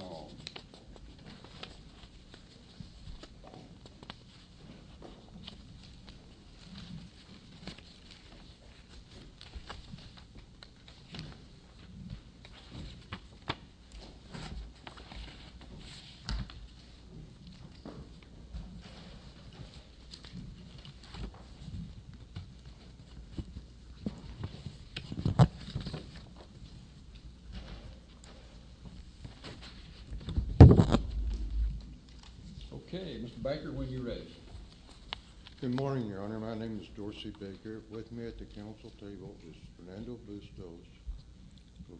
all. Good morning, your honor. My name is Dorsey Baker. With me at the council table is Fernando Bustos.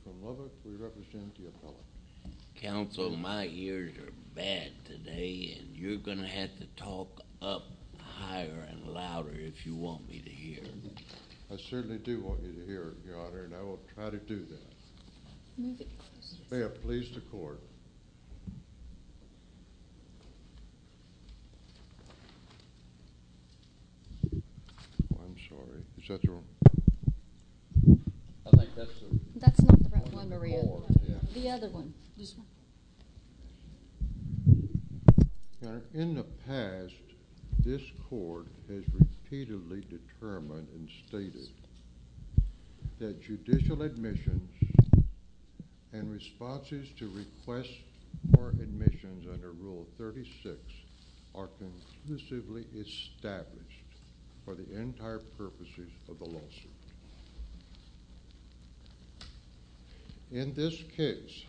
From Lubbock, we represent the appellate. Counsel, my ears are bad today, and you're going to have to talk up higher and louder if you want me to hear. I certainly do want you to hear, your honor, and I will try to do that. May it please the court. I'm sorry. Is that the one? I think that's the one. That's not the right one, Maria. The other one. This one. Thank you. You may be seated. In the past, this court has repeatedly determined and stated that judicial admissions and responses to request for admissions under Rule 36 are conclusively established for the entire purposes of the lawsuit. In this case,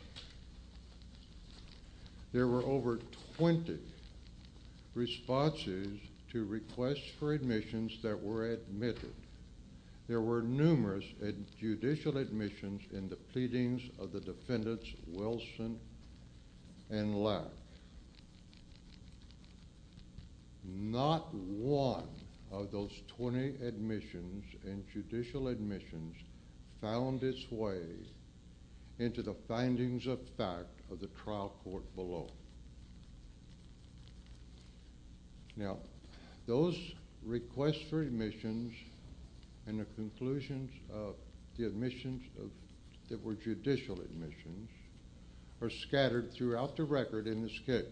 there were over 20 responses to requests for admissions that were admitted. There were numerous judicial admissions in the pleadings of the defendants Wilson and Lack. However, not one of those 20 admissions and judicial admissions found its way into the findings of fact of the trial court below. Now, those requests for admissions and the conclusions of the admissions that were judicial admissions are scattered throughout the record in this case,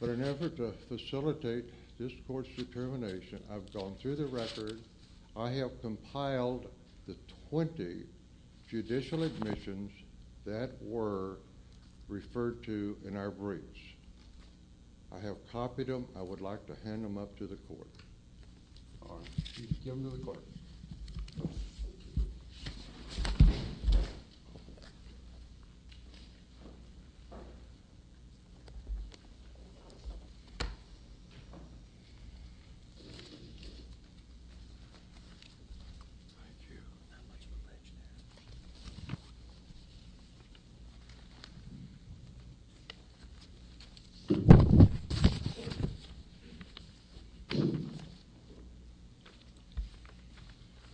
but in an effort to facilitate this court's determination, I've gone through the record. I have compiled the 20 judicial admissions that were referred to in our briefs. I have copied them. I would like to hand them up to the court. All right. Please give them to the court. Thank you. Not much information.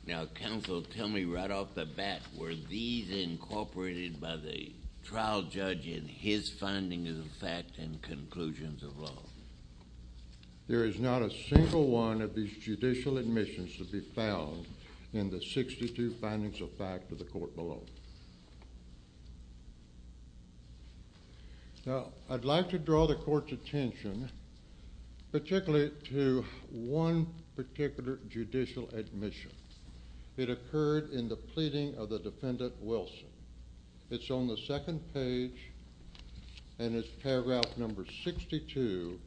Now, counsel, tell me right off the bat, were these incorporated by the trial judge in his findings of fact and conclusions of law? There is not a single one of these judicial admissions to be found in the 62 findings of fact of the court below. Now, I'd like to draw the court's attention particularly to one particular judicial admission. It occurred in the pleading of the defendant Wilson. It's on the second page and it's paragraph number 62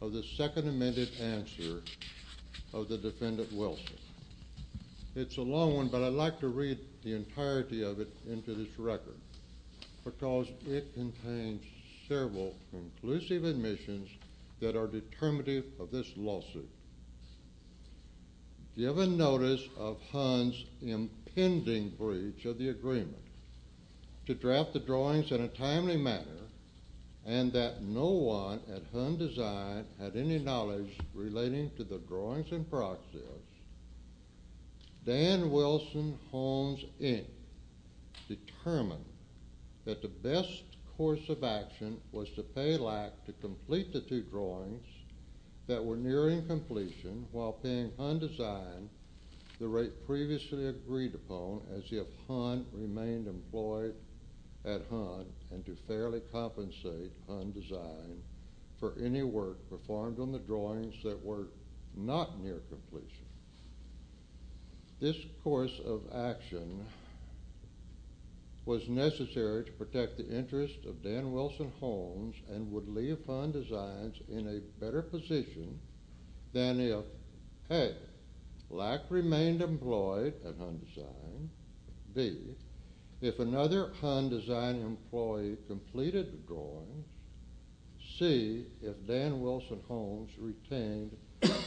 of the second amended answer of the defendant Wilson. It's a long one, but I'd like to read the entirety of it into this record because it contains several conclusive admissions that are determinative of this lawsuit. Given notice of Hunn's impending breach of the agreement to draft the drawings in a timely manner and that no one at Hunn Design had any knowledge relating to the drawings in process, Dan Wilson Holmes, Inc. determined that the best course of action was to pay lack to complete the two drawings that were nearing completion while paying Hunn Design the rate previously agreed upon as if Hunn remained employed at Hunn and to fairly compensate Hunn Design for any work performed on the drawings that were not near completion. This course of action was necessary to protect the interest of Dan Wilson Holmes and would leave Hunn Designs in a better position than if, A, lack remained employed at Hunn Design, B, if another Hunn Design employee completed the drawings, C, if Dan Wilson Holmes retained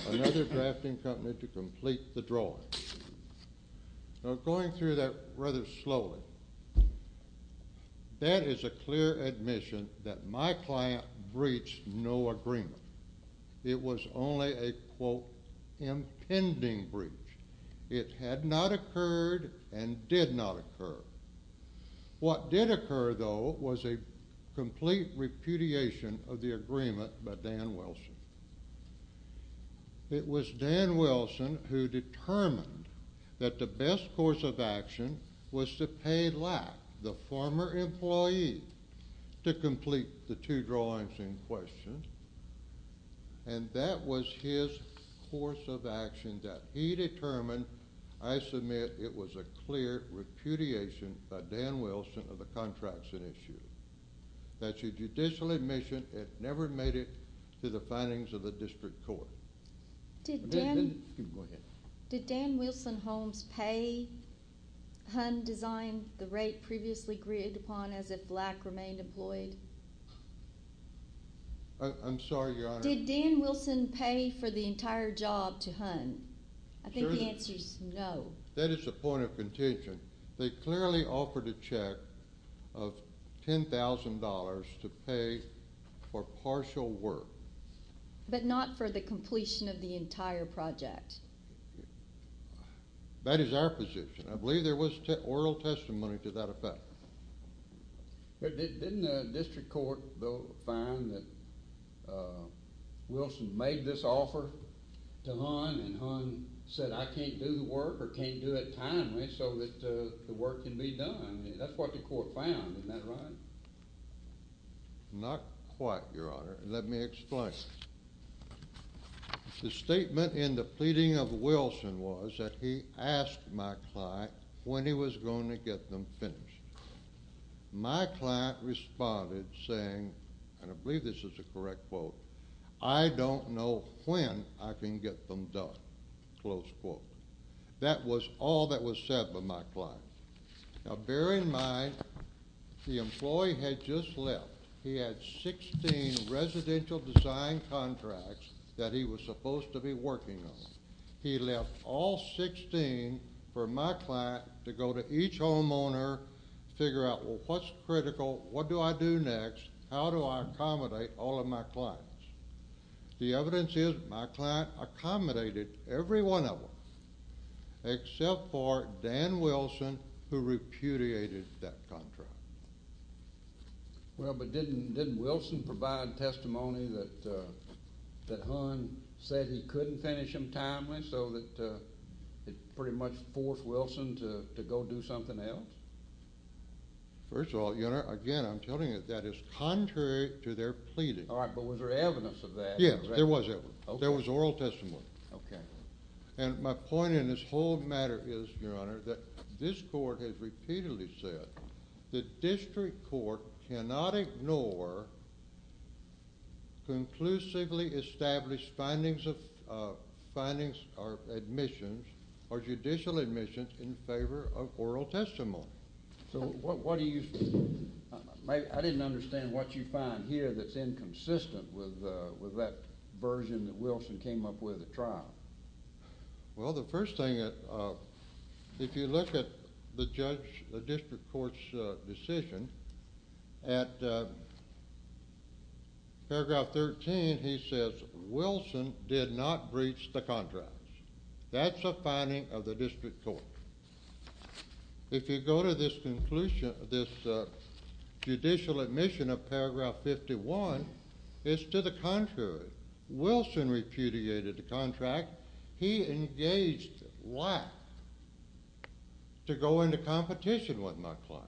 another drafting company to complete the drawings. Now, going through that rather slowly, that is a clear admission that my client breached no agreement. It was only a, quote, impending breach. It had not occurred and did not occur. What did occur, though, was a complete repudiation of the agreement by Dan Wilson. It was Dan Wilson who determined that the best course of action was to pay lack, the former employee, to complete the two drawings in question, and that was his course of action that he determined, I submit it was a clear repudiation by Dan Wilson of the contracts at issue. That's a judicial admission. It never made it to the findings of the district court. Did Dan Wilson Holmes pay Hunn Design the rate previously agreed upon as if lack remained employed? I'm sorry, Your Honor. Did Dan Wilson pay for the entire job to Hunn? I think the answer is no. That is a point of contention. They clearly offered a check of $10,000 to pay for partial work. But not for the completion of the entire project. That is our position. I believe there was oral testimony to that effect. Didn't the district court, though, find that Wilson made this offer to Hunn and Hunn said, I can't do the work or can't do it timely so that the work can be done? That's what the court found. Isn't that right? Not quite, Your Honor. Let me explain. The statement in the pleading of Wilson was that he asked my client when he was going to get them finished. My client responded saying, and I believe this is a correct quote, I don't know when I can get them done, close quote. That was all that was said by my client. Now, bear in mind, the employee had just left. He had 16 residential design contracts that he was supposed to be working on. He left all 16 for my client to go to each homeowner, figure out, well, what's critical? What do I do next? How do I accommodate all of my clients? The evidence is my client accommodated every one of them except for Dan Wilson, who repudiated that contract. Well, but didn't Wilson provide testimony that Hunn said he couldn't finish them timely so that it pretty much forced Wilson to go do something else? First of all, Your Honor, again, I'm telling you that is contrary to their pleading. All right, but was there evidence of that? Yes, there was evidence. Okay. There was oral testimony. Okay. And my point in this whole matter is, Your Honor, that this court has repeatedly said the district court cannot ignore conclusively established findings or admissions or judicial admissions in favor of oral testimony. So what do you think? I didn't understand what you find here that's inconsistent with that version that Wilson came up with at trial. Well, the first thing, if you look at the district court's decision, at paragraph 13, he says Wilson did not breach the contracts. That's a finding of the district court. If you go to this judicial admission of paragraph 51, it's to the contrary. Wilson repudiated the contract. He engaged why? To go into competition with my client.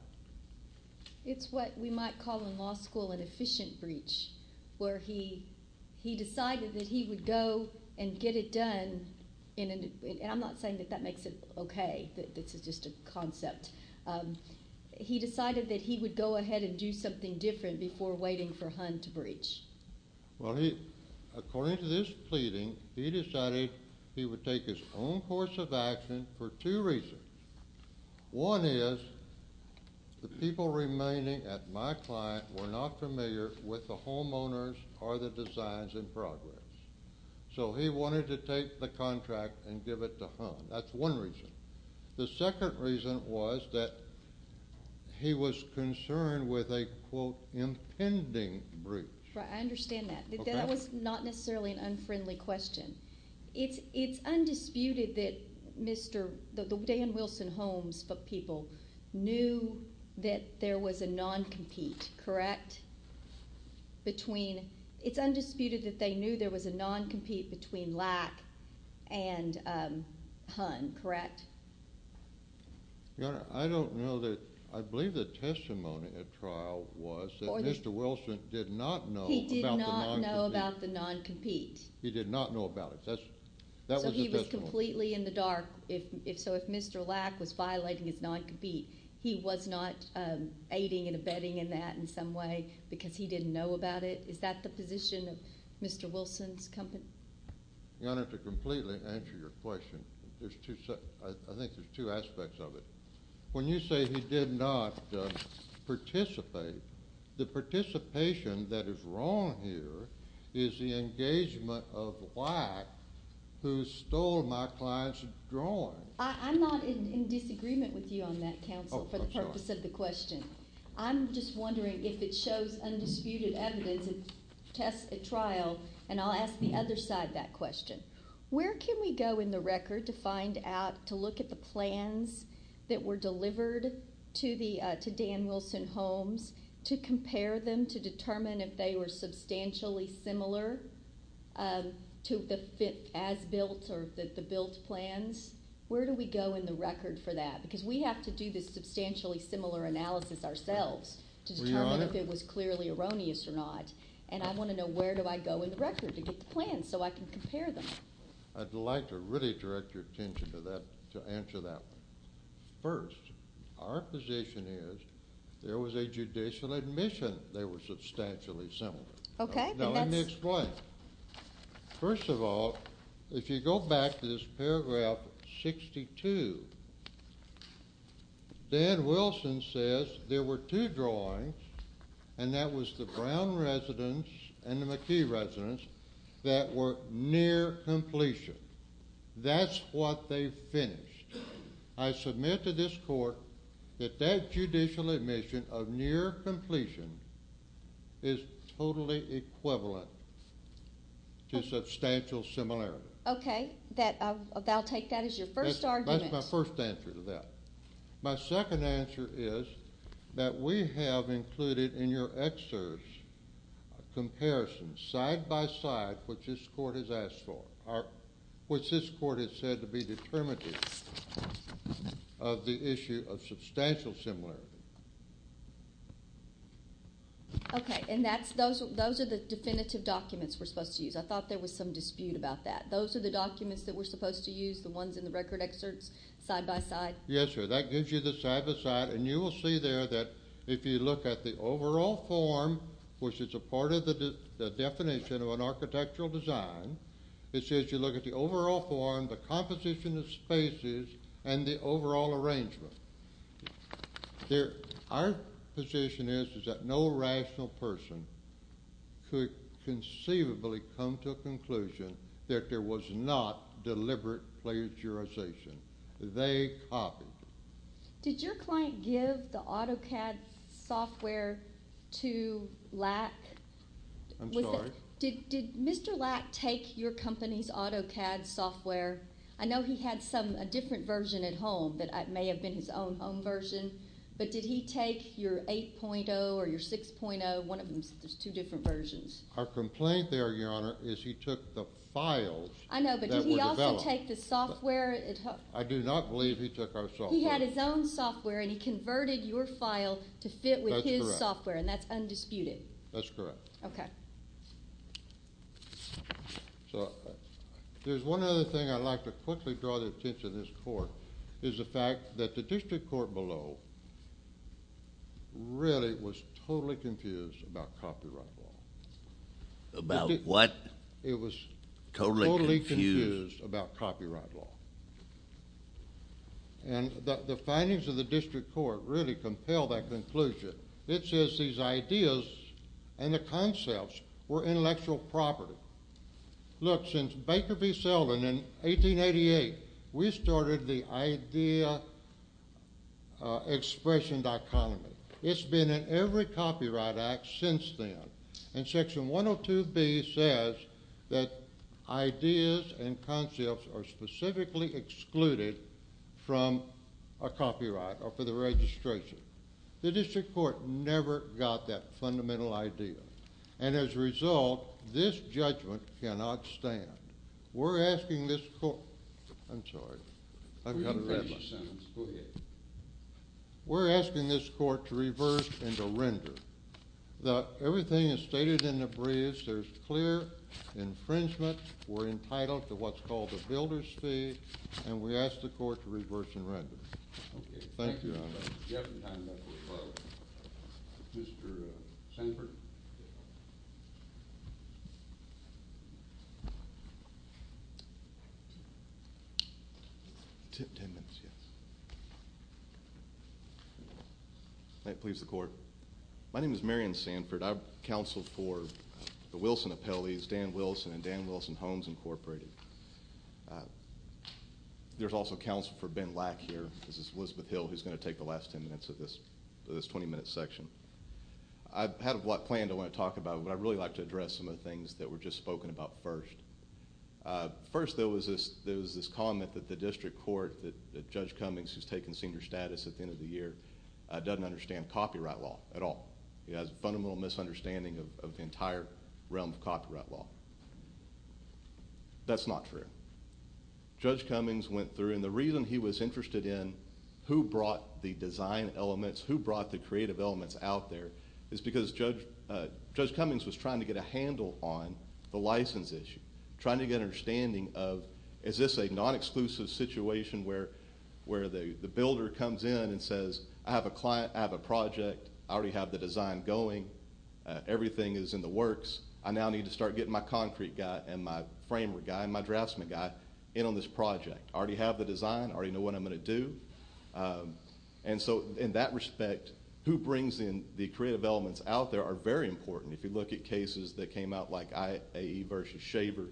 It's what we might call in law school an efficient breach, where he decided that he would go and get it done. And I'm not saying that that makes it okay. This is just a concept. He decided that he would go ahead and do something different before waiting for Hunt to breach. Well, according to this pleading, he decided he would take his own course of action for two reasons. One is the people remaining at my client were not familiar with the homeowners or the designs in progress. So he wanted to take the contract and give it to Hunt. That's one reason. The second reason was that he was concerned with a, quote, impending breach. I understand that. That was not necessarily an unfriendly question. It's undisputed that Dan Wilson Holmes' people knew that there was a non-compete, correct? It's undisputed that they knew there was a non-compete between Lack and Hunt, correct? Your Honor, I don't know that. I believe the testimony at trial was that Mr. Wilson did not know about the non-compete. He did not know about the non-compete. He did not know about it. That was the testimony. So he was completely in the dark. So if Mr. Lack was violating his non-compete, he was not aiding and abetting in that in some way because he didn't know about it? Is that the position of Mr. Wilson's company? Your Honor, to completely answer your question, I think there's two aspects of it. When you say he did not participate, the participation that is wrong here is the engagement of Lack, who stole my client's drawing. I'm not in disagreement with you on that, counsel, for the purpose of the question. I'm just wondering if it shows undisputed evidence at trial, and I'll ask the other side that question. Where can we go in the record to find out, to look at the plans that were delivered to Dan Wilson Homes, to compare them, to determine if they were substantially similar to the as-built or the built plans? Where do we go in the record for that? Because we have to do this substantially similar analysis ourselves to determine if it was clearly erroneous or not. And I want to know where do I go in the record to get the plans so I can compare them. I'd like to really direct your attention to that, to answer that one. First, our position is there was a judicial admission they were substantially similar. Okay. Now, let me explain. First of all, if you go back to this paragraph 62, Dan Wilson says there were two drawings, and that was the Brown residence and the McKee residence, that were near completion. That's what they finished. I submit to this court that that judicial admission of near completion is totally equivalent to substantial similarity. Okay. I'll take that as your first argument. That's my first answer to that. My second answer is that we have included in your excerpts comparisons side by side which this court has asked for, which this court has said to be determinative of the issue of substantial similarity. Okay. And those are the definitive documents we're supposed to use. I thought there was some dispute about that. Those are the documents that we're supposed to use, the ones in the record excerpts side by side. Yes, sir. That gives you the side by side, and you will see there that if you look at the overall form, which is a part of the definition of an architectural design, it says you look at the overall form, the composition of spaces, and the overall arrangement. Our position is that no rational person could conceivably come to a conclusion that there was not deliberate plagiarization. They copied it. Did your client give the AutoCAD software to Lack? I'm sorry? Did Mr. Lack take your company's AutoCAD software? I know he had a different version at home that may have been his own home version, but did he take your 8.0 or your 6.0, one of them? There's two different versions. Our complaint there, Your Honor, is he took the files that were developed. I know, but did he also take the software? I do not believe he took our software. He had his own software, and he converted your file to fit with his software, and that's undisputed. That's correct. Okay. So there's one other thing I'd like to quickly draw the attention of this Court, is the fact that the district court below really was totally confused about copyright law. About what? It was totally confused about copyright law. And the findings of the district court really compel that conclusion. It says these ideas and the concepts were intellectual property. Look, since Baker v. Selden in 1888, we started the idea-expression dichotomy. It's been in every Copyright Act since then. And Section 102B says that ideas and concepts are specifically excluded from a copyright or for the registration. The district court never got that fundamental idea. And as a result, this judgment cannot stand. We're asking this court to reverse and to render. Everything is stated in the briefs. There's clear infringement. We're entitled to what's called a builder's fee, and we ask the court to reverse and render. Okay. Thank you, Your Honor. We have some time left for questions. Mr. Sanford? Ten minutes, yes. May it please the Court. My name is Marion Sanford. I'm counsel for the Wilson Appellees, Dan Wilson and Dan Wilson Homes, Incorporated. There's also counsel for Ben Lack here. This is Elizabeth Hill, who's going to take the last ten minutes of this 20-minute section. I've had a lot planned I want to talk about, but I'd really like to address some of the things that were just spoken about first. First, there was this comment that the district court, that Judge Cummings, who's taking senior status at the end of the year, doesn't understand copyright law at all. He has a fundamental misunderstanding of the entire realm of copyright law. That's not true. Judge Cummings went through, and the reason he was interested in who brought the design elements, who brought the creative elements out there, is because Judge Cummings was trying to get a handle on the license issue, trying to get an understanding of is this a non-exclusive situation where the builder comes in and says, I have a client, I have a project, I already have the design going, everything is in the works, I now need to start getting my concrete guy and my framework guy and my draftsman guy in on this project. I already have the design, I already know what I'm going to do. In that respect, who brings in the creative elements out there are very important. If you look at cases that came out like A.E. versus Shaver,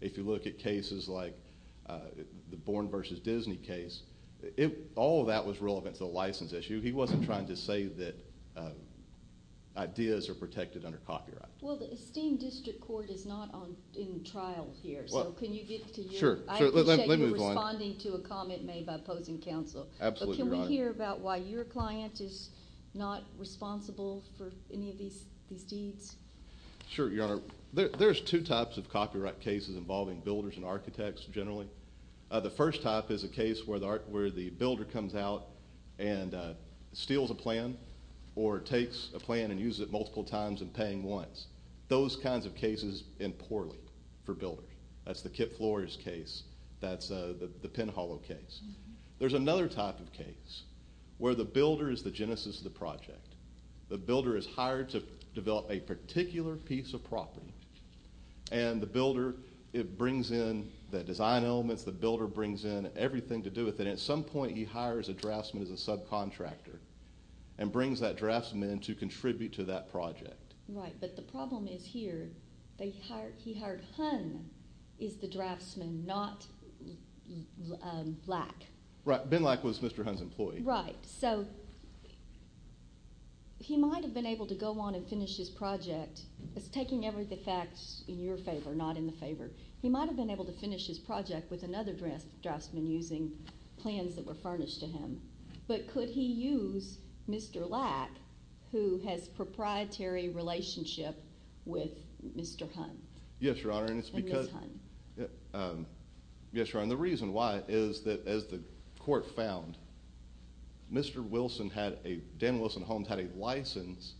if you look at cases like the Bourne versus Disney case, all of that was relevant to the license issue. He wasn't trying to say that ideas are protected under copyright. Well, the esteemed district court is not in trial here, so can you get to your – Sure. I appreciate you responding to a comment made by opposing counsel. Absolutely right. Can we hear about why your client is not responsible for any of these deeds? Sure, Your Honor. There's two types of copyright cases involving builders and architects generally. or takes a plan and uses it multiple times and paying once. Those kinds of cases end poorly for builders. That's the Kip Flores case. That's the Penn Hollow case. There's another type of case where the builder is the genesis of the project. The builder is hired to develop a particular piece of property, and the builder brings in the design elements, the builder brings in everything to do with it, and at some point he hires a draftsman as a subcontractor and brings that draftsman to contribute to that project. Right, but the problem is here. He hired Hunn as the draftsman, not Lack. Right, Ben Lack was Mr. Hunn's employee. Right, so he might have been able to go on and finish his project. It's taking everything in your favor, not in the favor. He might have been able to finish his project with another draftsman using plans that were furnished to him, but could he use Mr. Lack, who has a proprietary relationship with Mr. Hunn? Yes, Your Honor, and the reason why is that as the court found, Mr. Dan Wilson Holmes had a license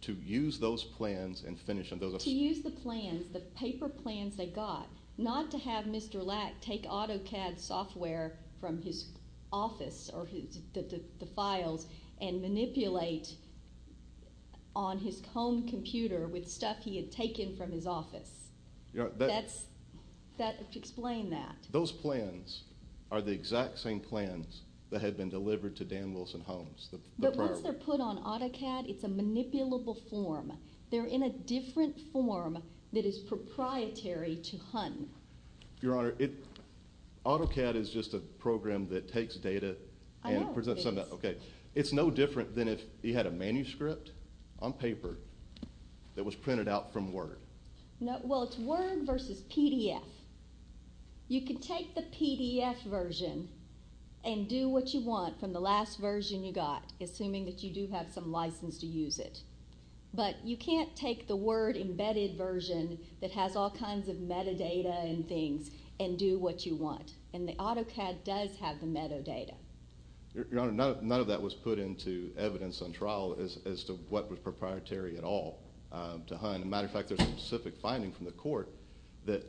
to use those plans and finish them. To use the plans, the paper plans they got, not to have Mr. Lack take AutoCAD software from his office or the files and manipulate on his home computer with stuff he had taken from his office. Explain that. Those plans are the exact same plans that had been delivered to Dan Wilson Holmes. But once they're put on AutoCAD, it's a manipulable form. They're in a different form that is proprietary to Hunn. Your Honor, AutoCAD is just a program that takes data and presents it. It's no different than if you had a manuscript on paper that was printed out from Word. Well, it's Word versus PDF. You can take the PDF version and do what you want from the last version you got, assuming that you do have some license to use it. But you can't take the Word embedded version that has all kinds of metadata and things and do what you want, and the AutoCAD does have the metadata. Your Honor, none of that was put into evidence on trial as to what was proprietary at all to Hunn. As a matter of fact, there's a specific finding from the court that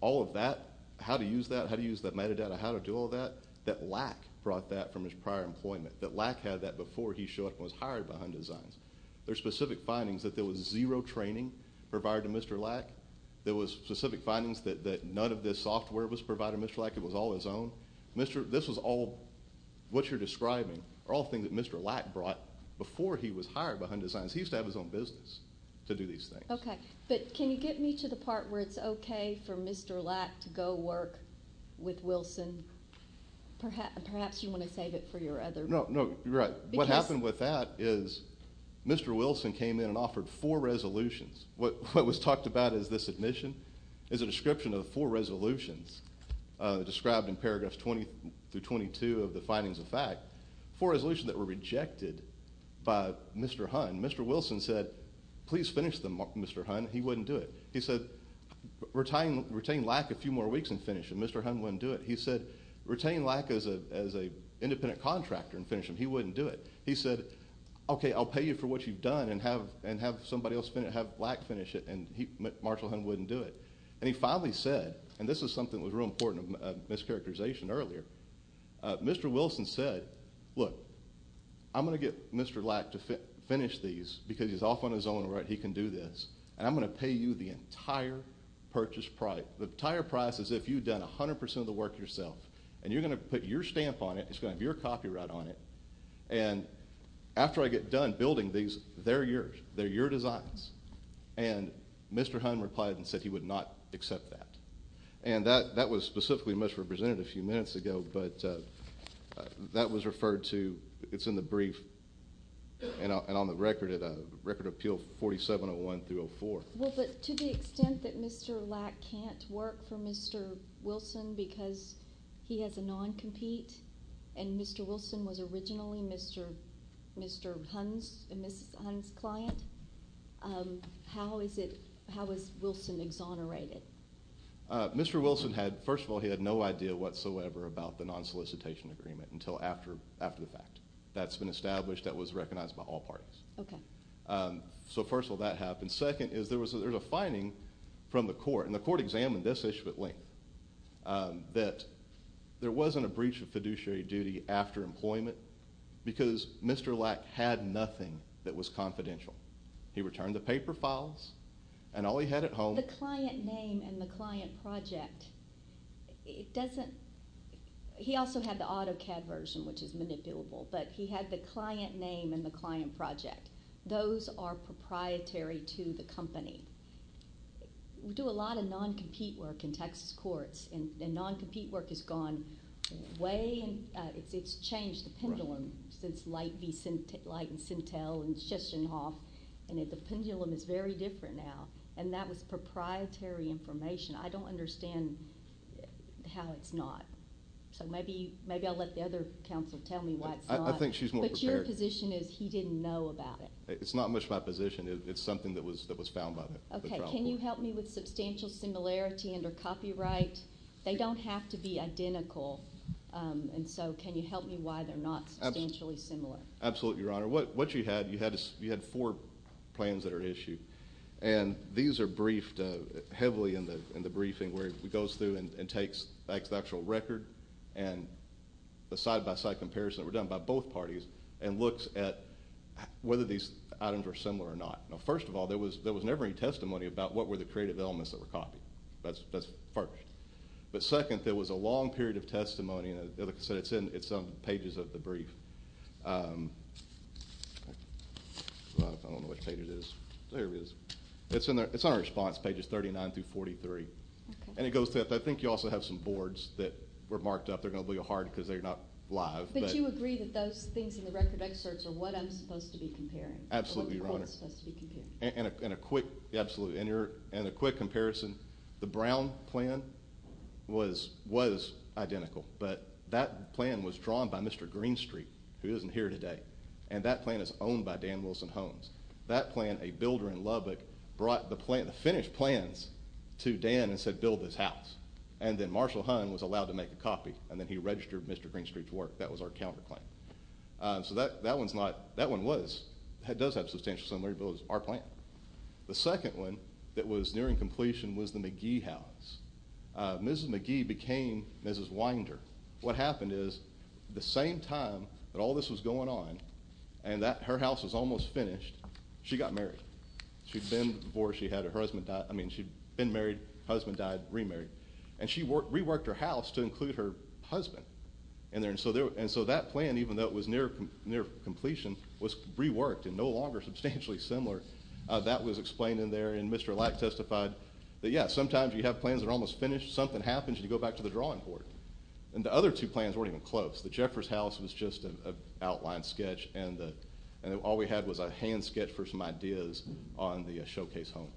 all of that, how to use that, how to use that metadata, how to do all that, that Lack brought that from his prior employment, that Lack had that before he showed up and was hired by Hunn Designs. There's specific findings that there was zero training provided to Mr. Lack. There was specific findings that none of this software was provided to Mr. Lack. It was all his own. This was all what you're describing are all things that Mr. Lack brought before he was hired by Hunn Designs. He used to have his own business to do these things. Okay, but can you get me to the part where it's okay for Mr. Lack to go work with Wilson? Perhaps you want to save it for your other report. No, you're right. What happened with that is Mr. Wilson came in and offered four resolutions. What was talked about in this admission is a description of four resolutions described in paragraphs 20 through 22 of the findings of fact, four resolutions that were rejected by Mr. Hunn. Mr. Wilson said, please finish them, Mr. Hunn. He wouldn't do it. He said, retain Lack a few more weeks and finish them. Mr. Hunn wouldn't do it. He said, retain Lack as an independent contractor and finish them. He wouldn't do it. He said, okay, I'll pay you for what you've done and have somebody else finish it, have Lack finish it, and Marshall Hunn wouldn't do it. And he finally said, and this is something that was real important, a mischaracterization earlier. Mr. Wilson said, look, I'm going to get Mr. Lack to finish these because he's off on his own and he can do this, and I'm going to pay you the entire purchase price. The entire price is if you've done 100% of the work yourself, and you're going to put your stamp on it. It's going to have your copyright on it. And after I get done building these, they're yours. They're your designs. And Mr. Hunn replied and said he would not accept that. And that was specifically misrepresented a few minutes ago, but that was referred to. It's in the brief and on the record at Record Appeal 4701-04. Well, but to the extent that Mr. Lack can't work for Mr. Wilson because he has a non-compete, and Mr. Wilson was originally Mr. Hunn's client, how is Wilson exonerated? Mr. Wilson had, first of all, he had no idea whatsoever about the non-solicitation agreement until after the fact. That's been established. That was recognized by all parties. Okay. So, first of all, that happened. And second is there was a finding from the court, and the court examined this issue at length, that there wasn't a breach of fiduciary duty after employment because Mr. Lack had nothing that was confidential. He returned the paper files and all he had at home. The client name and the client project, it doesn't – he also had the AutoCAD version, which is manipulable, but he had the client name and the client project. Those are proprietary to the company. We do a lot of non-compete work in Texas courts, and non-compete work has gone way – it's changed the pendulum since Light and Sintel and Schesternhoff, and the pendulum is very different now. And that was proprietary information. I don't understand how it's not. So maybe I'll let the other counsel tell me why it's not. I think she's more prepared. My position is he didn't know about it. It's not much of my position. It's something that was found by the trial court. Okay. Can you help me with substantial similarity under copyright? They don't have to be identical, and so can you help me why they're not substantially similar? Absolutely, Your Honor. What you had, you had four plans that are at issue, and these are briefed heavily in the briefing where it goes through and takes the actual record and the side-by-side comparison that were done by both parties and looks at whether these items are similar or not. Now, first of all, there was never any testimony about what were the creative elements that were copied. That's first. But second, there was a long period of testimony, and like I said, it's in some pages of the brief. I don't know which page it is. There it is. It's on our response pages 39 through 43, and it goes to – I think you also have some boards that were marked up. They're going to be hard because they're not live. But do you agree that those things in the record excerpts are what I'm supposed to be comparing? Absolutely, Your Honor. And a quick comparison. The Brown plan was identical, but that plan was drawn by Mr. Greenstreet, who isn't here today, and that plan is owned by Dan Wilson Holmes. That plan, a builder in Lubbock brought the finished plans to Dan and said build this house, and then Marshall Hunt was allowed to make a copy, and then he registered Mr. Greenstreet to work. That was our counterclaim. So that one's not – that one was – does have substantial similarity, but it was our plan. The second one that was nearing completion was the McGee house. Mrs. McGee became Mrs. Winder. What happened is the same time that all this was going on and that her house was almost finished, she got married. She'd been before she had her husband – I mean, she'd been married, husband died, remarried, and she reworked her house to include her husband in there. And so that plan, even though it was near completion, was reworked and no longer substantially similar. That was explained in there, and Mr. Lack testified that, yeah, sometimes you have plans that are almost finished, something happens, and you go back to the drawing board. And the other two plans weren't even close. The Jeffers house was just an outline sketch, and all we had was a hand sketch for some ideas on the showcase home.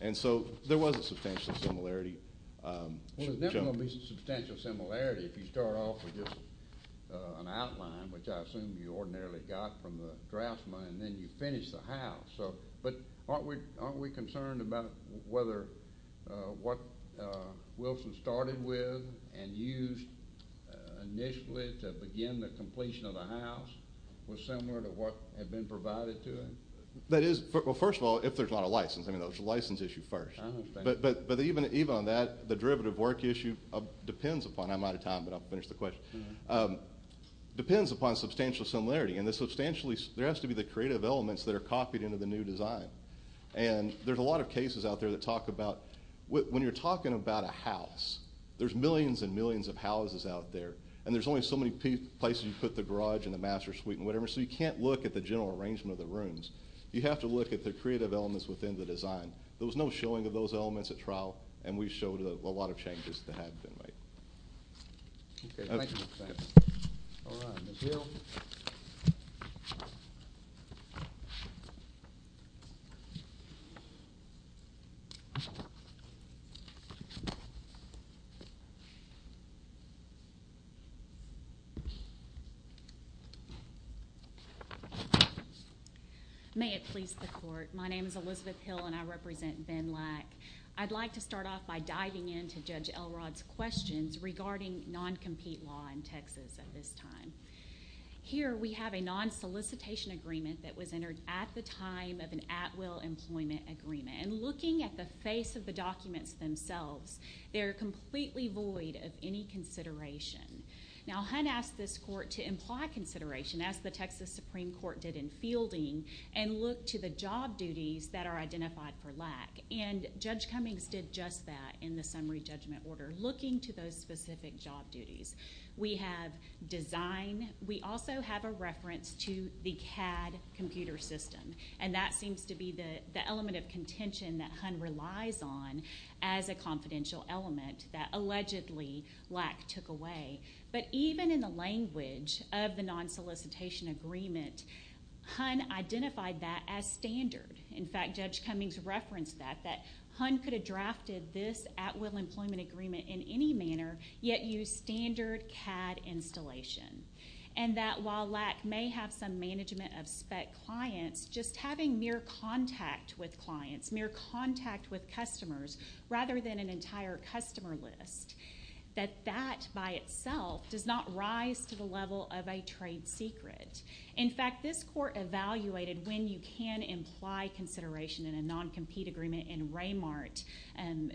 And so there was a substantial similarity. Well, there's never going to be substantial similarity if you start off with just an outline, which I assume you ordinarily got from the draftsman, and then you finish the house. But aren't we concerned about whether what Wilson started with and used initially to begin the completion of the house was similar to what had been provided to him? Well, first of all, if there's not a license. I mean, there's a license issue first. But even on that, the derivative work issue depends upon it. I'm out of time, but I'll finish the question. It depends upon substantial similarity, and there has to be the creative elements that are copied into the new design. And there's a lot of cases out there that talk about when you're talking about a house, there's millions and millions of houses out there, and there's only so many places you put the garage and the master suite and whatever, so you can't look at the general arrangement of the rooms. You have to look at the creative elements within the design. There was no showing of those elements at trial, and we showed a lot of changes that had been made. Okay, thank you. All right, Ms. Hill. May it please the Court. My name is Elizabeth Hill, and I represent Ben Lack. I'd like to start off by diving into Judge Elrod's questions regarding non-compete law in Texas at this time. Here we have a non-solicitation agreement that was entered at the time of an at-will employment agreement, and looking at the face of the documents themselves, they're completely void of any consideration. Now, Hunt asked this court to imply consideration, as the Texas Supreme Court did in fielding, and look to the job duties that are identified for Lack, and Judge Cummings did just that in the summary judgment order, looking to those specific job duties. We have design. We also have a reference to the CAD computer system, and that seems to be the element of contention that Hunt relies on as a confidential element that allegedly Lack took away. But even in the language of the non-solicitation agreement, Hunt identified that as standard. In fact, Judge Cummings referenced that, Hunt could have drafted this at-will employment agreement in any manner, yet use standard CAD installation, and that while Lack may have some management of spec clients, just having mere contact with clients, mere contact with customers, rather than an entire customer list, that that by itself does not rise to the level of a trade secret. In fact, this court evaluated when you can imply consideration in a non-compete agreement in Raymart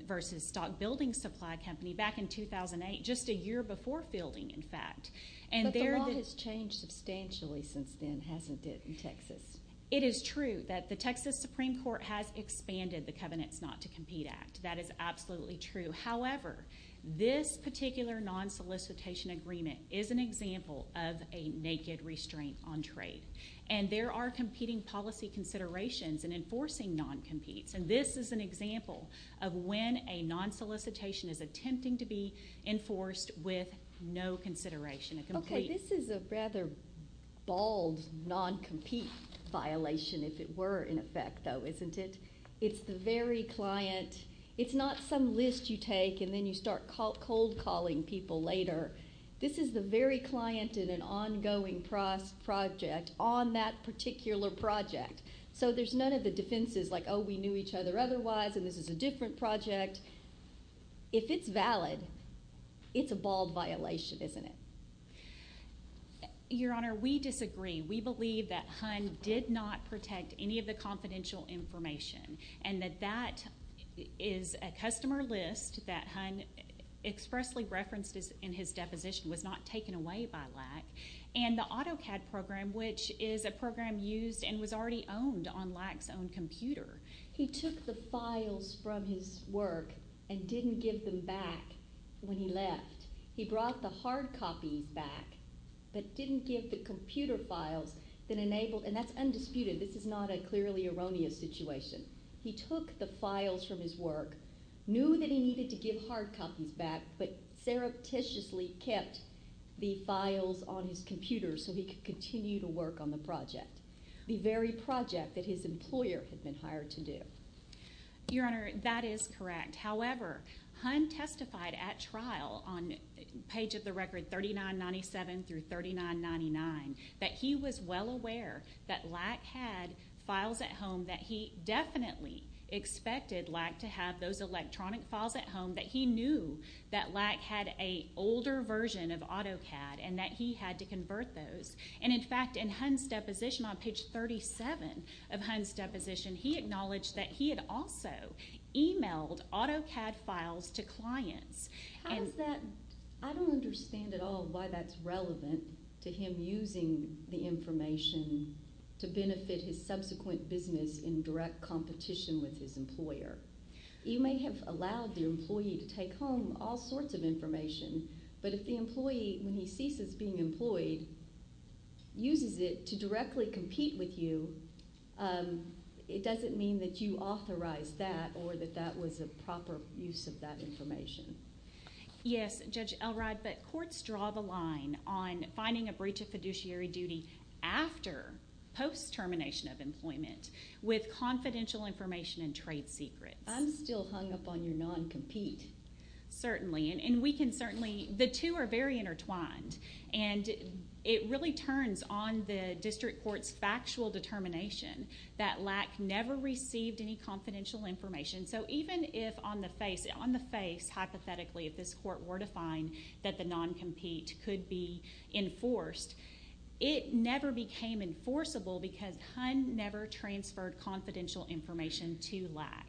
versus Stock Building Supply Company back in 2008, just a year before fielding, in fact. But the law has changed substantially since then, hasn't it, in Texas? It is true that the Texas Supreme Court has expanded the Covenants Not to Compete Act. That is absolutely true. However, this particular non-solicitation agreement is an example of a naked restraint on trade, and there are competing policy considerations in enforcing non-competes, and this is an example of when a non-solicitation is attempting to be enforced with no consideration. Okay, this is a rather bald non-compete violation, if it were in effect, though, isn't it? It's the very client. It's not some list you take and then you start cold-calling people later. This is the very client in an ongoing project on that particular project, so there's none of the defenses like, oh, we knew each other otherwise and this is a different project. If it's valid, it's a bald violation, isn't it? Your Honor, we disagree. We believe that Hunt did not protect any of the confidential information and that that is a customer list that Hunt expressly referenced in his deposition was not taken away by Lack, and the AutoCAD program, which is a program used and was already owned on Lack's own computer. He took the files from his work and didn't give them back when he left. He brought the hard copies back but didn't give the computer files that enabled, and that's undisputed. This is not a clearly erroneous situation. He took the files from his work, knew that he needed to give hard copies back, but surreptitiously kept the files on his computer so he could continue to work on the project, the very project that his employer had been hired to do. Your Honor, that is correct. However, Hunt testified at trial on page of the record 3997 through 3999 that he was well aware that Lack had files at home, that he definitely expected Lack to have those electronic files at home, that he knew that Lack had an older version of AutoCAD and that he had to convert those. In fact, in Hunt's deposition on page 37 of Hunt's deposition, he acknowledged that he had also emailed AutoCAD files to clients. How is that? I don't understand at all why that's relevant to him using the information to benefit his subsequent business in direct competition with his employer. You may have allowed your employee to take home all sorts of information, but if the employee, when he ceases being employed, uses it to directly compete with you, it doesn't mean that you authorized that or that that was a proper use of that information. Yes, Judge Elrod, but courts draw the line on finding a breach of fiduciary duty after post-termination of employment with confidential information and trade secrets. I'm still hung up on your non-compete. Certainly, and we can certainly... The two are very intertwined, and it really turns on the district court's factual determination that Lack never received any confidential information. So even if on the face, hypothetically, if this court were to find that the non-compete could be enforced, it never became enforceable because Hun never transferred confidential information to Lack.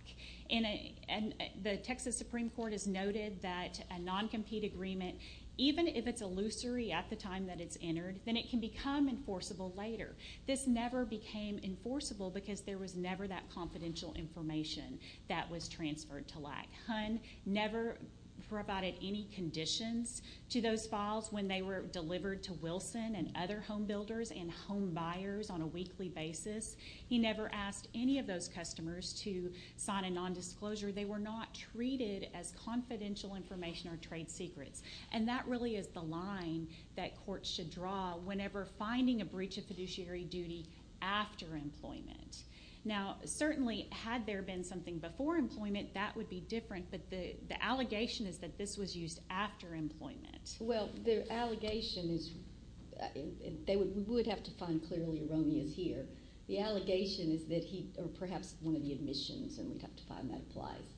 And the Texas Supreme Court has noted that a non-compete agreement, even if it's illusory at the time that it's entered, then it can become enforceable later. This never became enforceable because there was never that confidential information that was transferred to Lack. Hun never provided any conditions to those files when they were delivered to Wilson and other homebuilders and homebuyers on a weekly basis. He never asked any of those customers to sign a nondisclosure. They were not treated as confidential information or trade secrets. And that really is the line that courts should draw whenever finding a breach of fiduciary duty after employment. Now, certainly, had there been something before employment, that would be different, but the allegation is that this was used after employment. Well, the allegation is... We would have to find clearly erroneous here. The allegation is that he... Or perhaps one of the admissions, and we'd have to find that applies.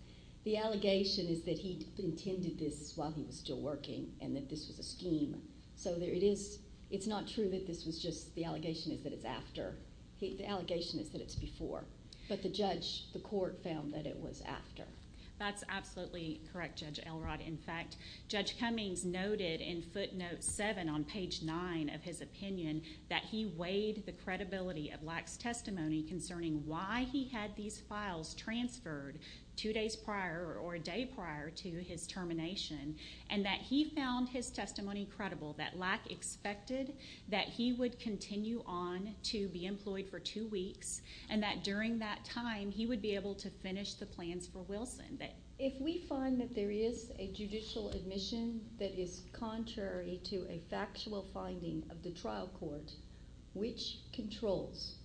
The allegation is that he intended this while he was still working and that this was a scheme. So it's not true that this was just... The allegation is that it's after. The allegation is that it's before. But the judge, the court, found that it was after. That's absolutely correct, Judge Elrod. In fact, Judge Cummings noted in footnote 7 on page 9 of his opinion that he weighed the credibility of Lack's testimony concerning why he had these files transferred two days prior or a day prior to his termination and that he found his testimony credible, that Lack expected that he would continue on to be employed for two weeks and that during that time, he would be able to finish the plans for Wilson. If we find that there is a judicial admission that is contrary to a factual finding of the trial court, which controls?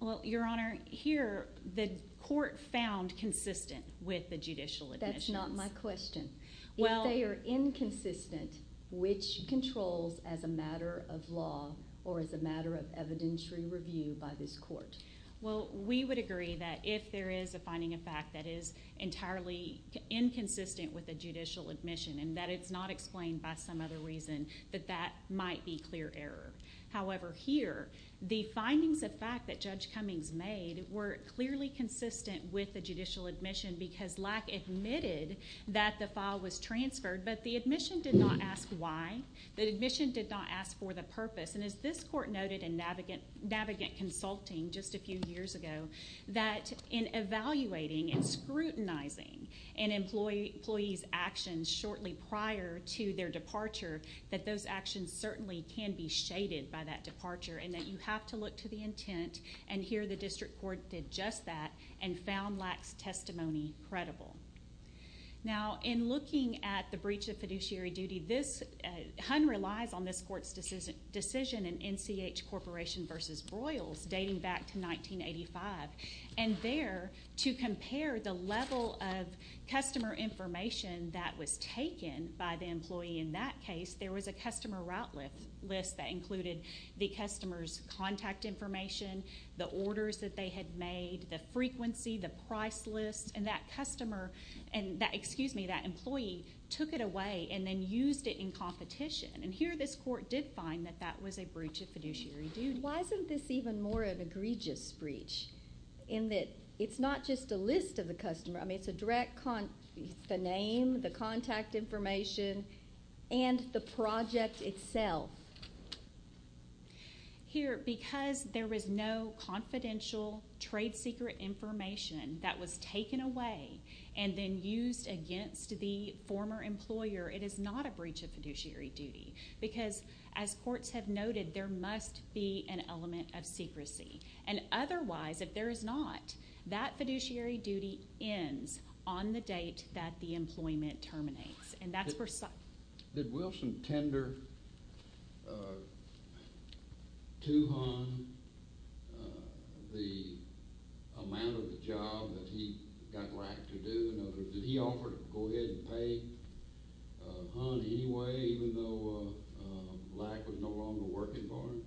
Well, Your Honor, here the court found consistent with the judicial admissions. That's not my question. If they are inconsistent, which controls as a matter of law or as a matter of evidentiary review by this court? Well, we would agree that if there is a finding of fact that is entirely inconsistent with a judicial admission and that it's not explained by some other reason, that that might be clear error. However, here, the findings of fact that Judge Cummings made were clearly consistent with the judicial admission because Lack admitted that the file was transferred, but the admission did not ask why. The admission did not ask for the purpose. And as this court noted in Navigant Consulting just a few years ago, that in evaluating and scrutinizing an employee's actions shortly prior to their departure, that those actions certainly can be shaded by that departure and that you have to look to the intent. And here, the district court did just that and found Lack's testimony credible. Now, in looking at the breach of fiduciary duty, Hunn relies on this court's decision in NCH Corporation v. Broyles dating back to 1985. And there, to compare the level of customer information that was taken by the employee in that case, there was a customer route list that included the customer's contact information, the orders that they had made, the frequency, the price list. And that customer and that employee took it away and then used it in competition. And here, this court did find that that was a breach of fiduciary duty. Why isn't this even more of an egregious breach in that it's not just a list of the customer? I mean, it's a direct contact, the name, the contact information, and the project itself. Here, because there was no confidential trade secret information that was taken away and then used against the former employer, it is not a breach of fiduciary duty because, as courts have noted, there must be an element of secrecy. And otherwise, if there is not, that fiduciary duty ends on the date that the employment terminates. Did Wilson tender to Hunn the amount of the job that he got right to do? Or did he offer to go ahead and pay Hunn anyway, even though Black was no longer working for him?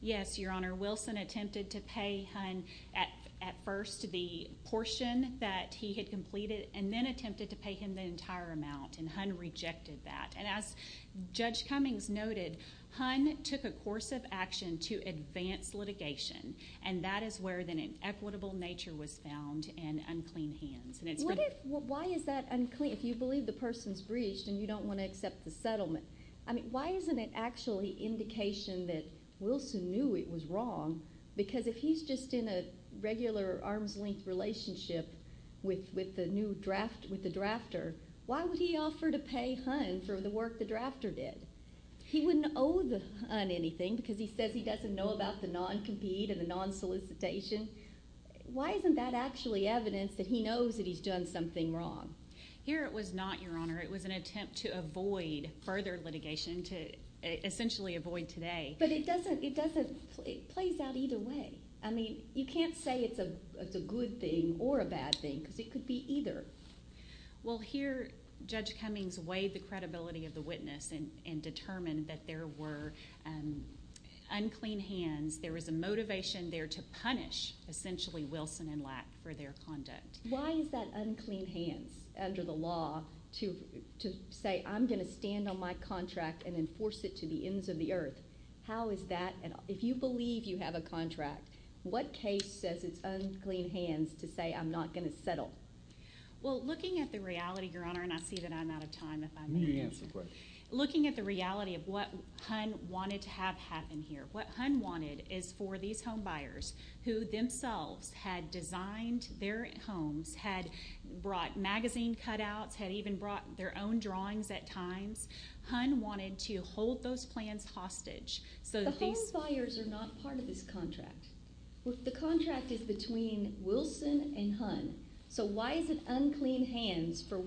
Yes, Your Honor, Wilson attempted to pay Hunn at first the portion that he had completed and then attempted to pay him the entire amount, and Hunn rejected that. And as Judge Cummings noted, Hunn took a course of action to advance litigation, and that is where an inequitable nature was found and unclean hands. Why is that unclean? If you believe the person's breached and you don't want to accept the settlement, why isn't it actually indication that Wilson knew it was wrong? Because if he's just in a regular arm's-length relationship with the new drafter, why would he offer to pay Hunn for the work the drafter did? He wouldn't owe Hunn anything because he says he doesn't know about the non-compete and the non-solicitation. Why isn't that actually evidence that he knows that he's done something wrong? Here it was not, Your Honor. It was an attempt to avoid further litigation, to essentially avoid today. But it doesn't, it doesn't, it plays out either way. I mean, you can't say it's a good thing or a bad thing because it could be either. Well, here Judge Cummings weighed the credibility of the witness and determined that there were unclean hands, there was a motivation there to punish, essentially, Wilson and Lack for their conduct. Why is that unclean hands under the law to say I'm going to stand on my contract and enforce it to the ends of the earth? How is that... If you believe you have a contract, what case says it's unclean hands to say I'm not going to settle? Well, looking at the reality, Your Honor, and I see that I'm out of time if I may... You may answer the question. Looking at the reality of what Hunn wanted to have happen here, what Hunn wanted is for these homebuyers, who themselves had designed their homes, had brought magazine cutouts, had even brought their own drawings at times, Hunn wanted to hold those plans hostage. The homebuyers are not part of this contract. The contract is between Wilson and Hunn. So why is it unclean hands for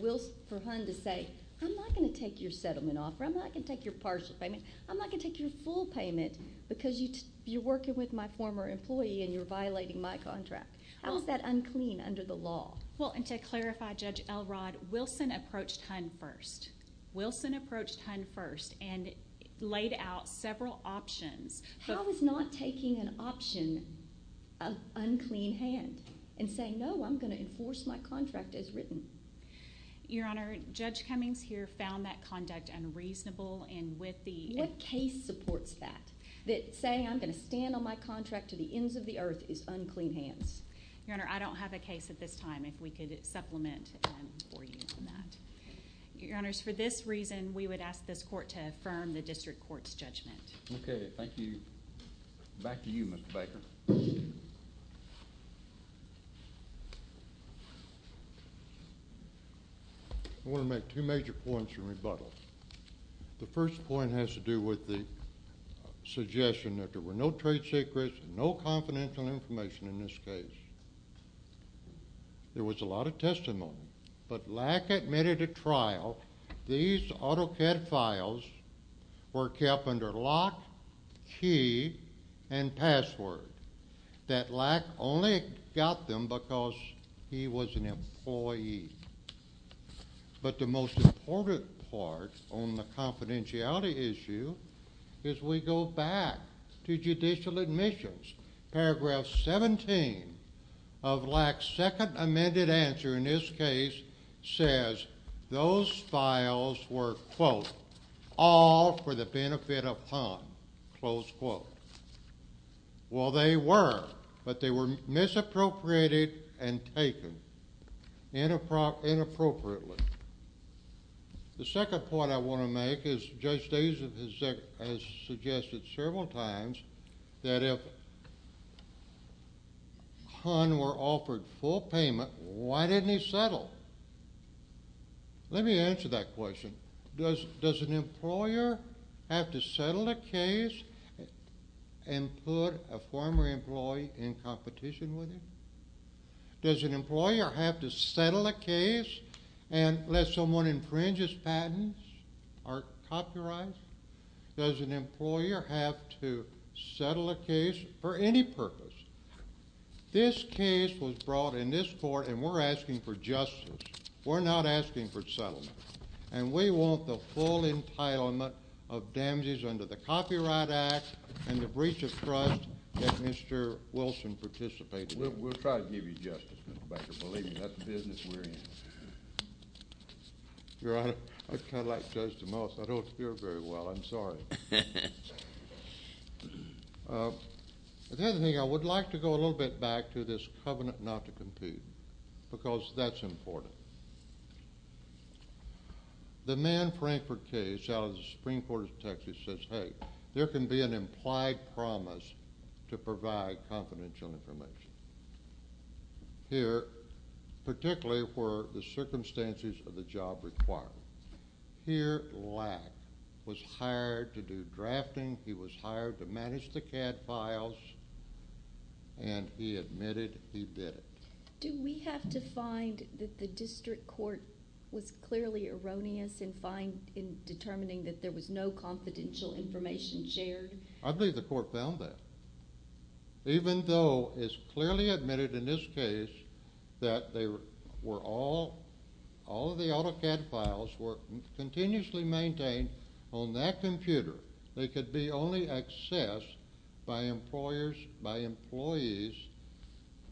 Hunn to say I'm not going to take your settlement off or I'm not going to take your partial payment, I'm not going to take your full payment because you're working with my former employee and you're violating my contract? How is that unclean under the law? Well, and to clarify, Judge Elrod, Wilson approached Hunn first. Wilson approached Hunn first and laid out several options. How is not taking an option of unclean hand and saying no, I'm going to enforce my contract as written? Your Honor, Judge Cummings here found that conduct unreasonable and with the... What case supports that? That saying I'm going to stand on my contract to the ends of the earth is unclean hands. Your Honor, I don't have a case at this time if we could supplement or use that. Your Honors, for this reason, we would ask this court to affirm the district court's judgment. Okay, thank you. Back to you, Mr. Baker. I want to make two major points in rebuttal. The first point has to do with the suggestion that there were no trade secrets, no confidential information in this case. There was a lot of testimony, but Lack admitted at trial these AutoCAD files were kept under lock, key, and password, that Lack only got them because he was an employee. But the most important part on the confidentiality issue is we go back to judicial admissions. Paragraph 17 of Lack's second amended answer in this case says those files were, quote, all for the benefit of Han, close quote. Well, they were, but they were misappropriated and taken inappropriately. The second point I want to make is Judge Dase has suggested several times that if Han were offered full payment, why didn't he settle? Let me answer that question. Does an employer have to settle a case and put a former employee in competition with him? Does an employer have to settle a case unless someone infringes patents or copyrights? Does an employer have to settle a case for any purpose? This case was brought in this court, and we're asking for justice. We're not asking for settlement, and we want the full entitlement of damages under the Copyright Act and the breach of trust that Mr. Wilson participated in. We'll try to give you justice, Mr. Baker. Believe me, that's the business we're in. Your Honor, I kind of like Judge DeMoss. I don't hear very well. I'm sorry. The other thing I would like to go a little bit back to is this covenant not to compute because that's important. The Mann-Frankford case out of the Supreme Court of Texas says, Hey, there can be an implied promise to provide confidential information. Here, particularly for the circumstances of the job required. Here, Lack was hired to do drafting. He was hired to manage the CAD files, and he admitted he did it. Do we have to find that the district court was clearly erroneous in determining that there was no confidential information shared? I believe the court found that. Even though it's clearly admitted in this case that all of the AutoCAD files were continuously maintained on that computer, they could be only accessed by employees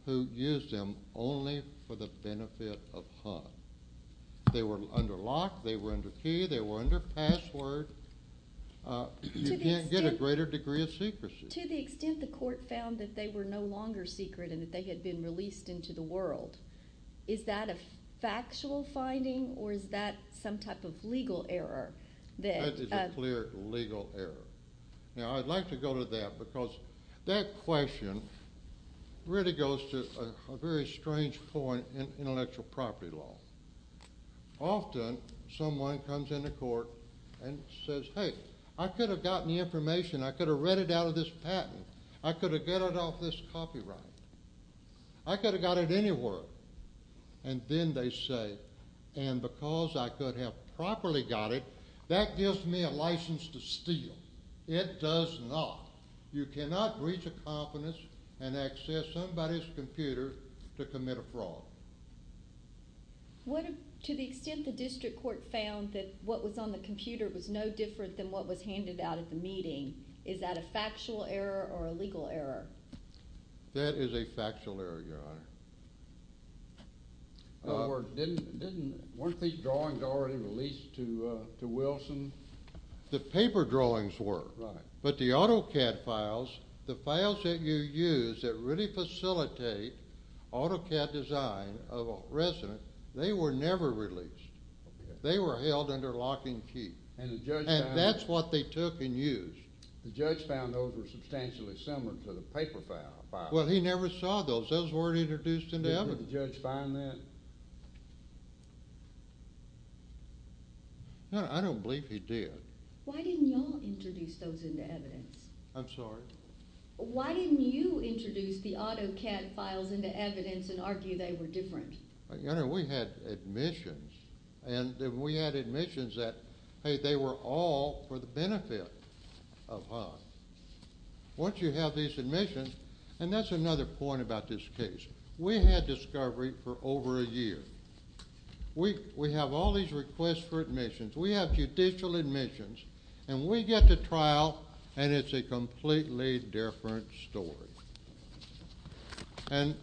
who used them only for the benefit of Hunt. They were under lock. They were under key. They were under password. You can't get a greater degree of secrecy. To the extent the court found that they were no longer secret and that they had been released into the world, is that a factual finding or is that some type of legal error? That is a clear legal error. Now, I'd like to go to that because that question really goes to a very strange point in intellectual property law. Often someone comes into court and says, Hey, I could have gotten the information. I could have read it out of this patent. I could have got it off this copyright. I could have got it anywhere. And then they say, and because I could have properly got it, that gives me a license to steal. It does not. You cannot breach a confidence and access somebody's computer to commit a fraud. To the extent the district court found that what was on the computer was no different than what was handed out at the meeting, is that a factual error or a legal error? That is a factual error, Your Honor. Weren't these drawings already released to Wilson? The paper drawings were. But the AutoCAD files, the files that you use that really facilitate AutoCAD design of a resident, they were never released. They were held under lock and key. And the judge found those? And that's what they took and used. The judge found those were substantially similar to the paper files. Well, he never saw those. Those weren't introduced into evidence. Did the judge find that? No, I don't believe he did. Why didn't you all introduce those into evidence? I'm sorry? Why didn't you introduce the AutoCAD files into evidence and argue they were different? Your Honor, we had admissions. And we had admissions that, hey, they were all for the benefit of HUD. Once you have these admissions, and that's another point about this case, we had discovery for over a year. We have all these requests for admissions. We have judicial admissions. And we get to trial, and it's a completely different story. And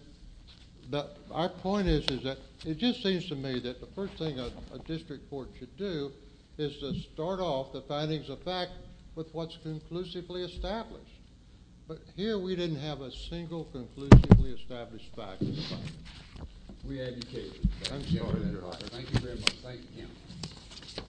our point is that it just seems to me that the first thing a district court should do is to start off the findings of fact with what's conclusively established. But here we didn't have a single conclusively established fact in the file. We had new cases. I'm sorry, Your Honor. Thank you very much. Thank you. Thank you.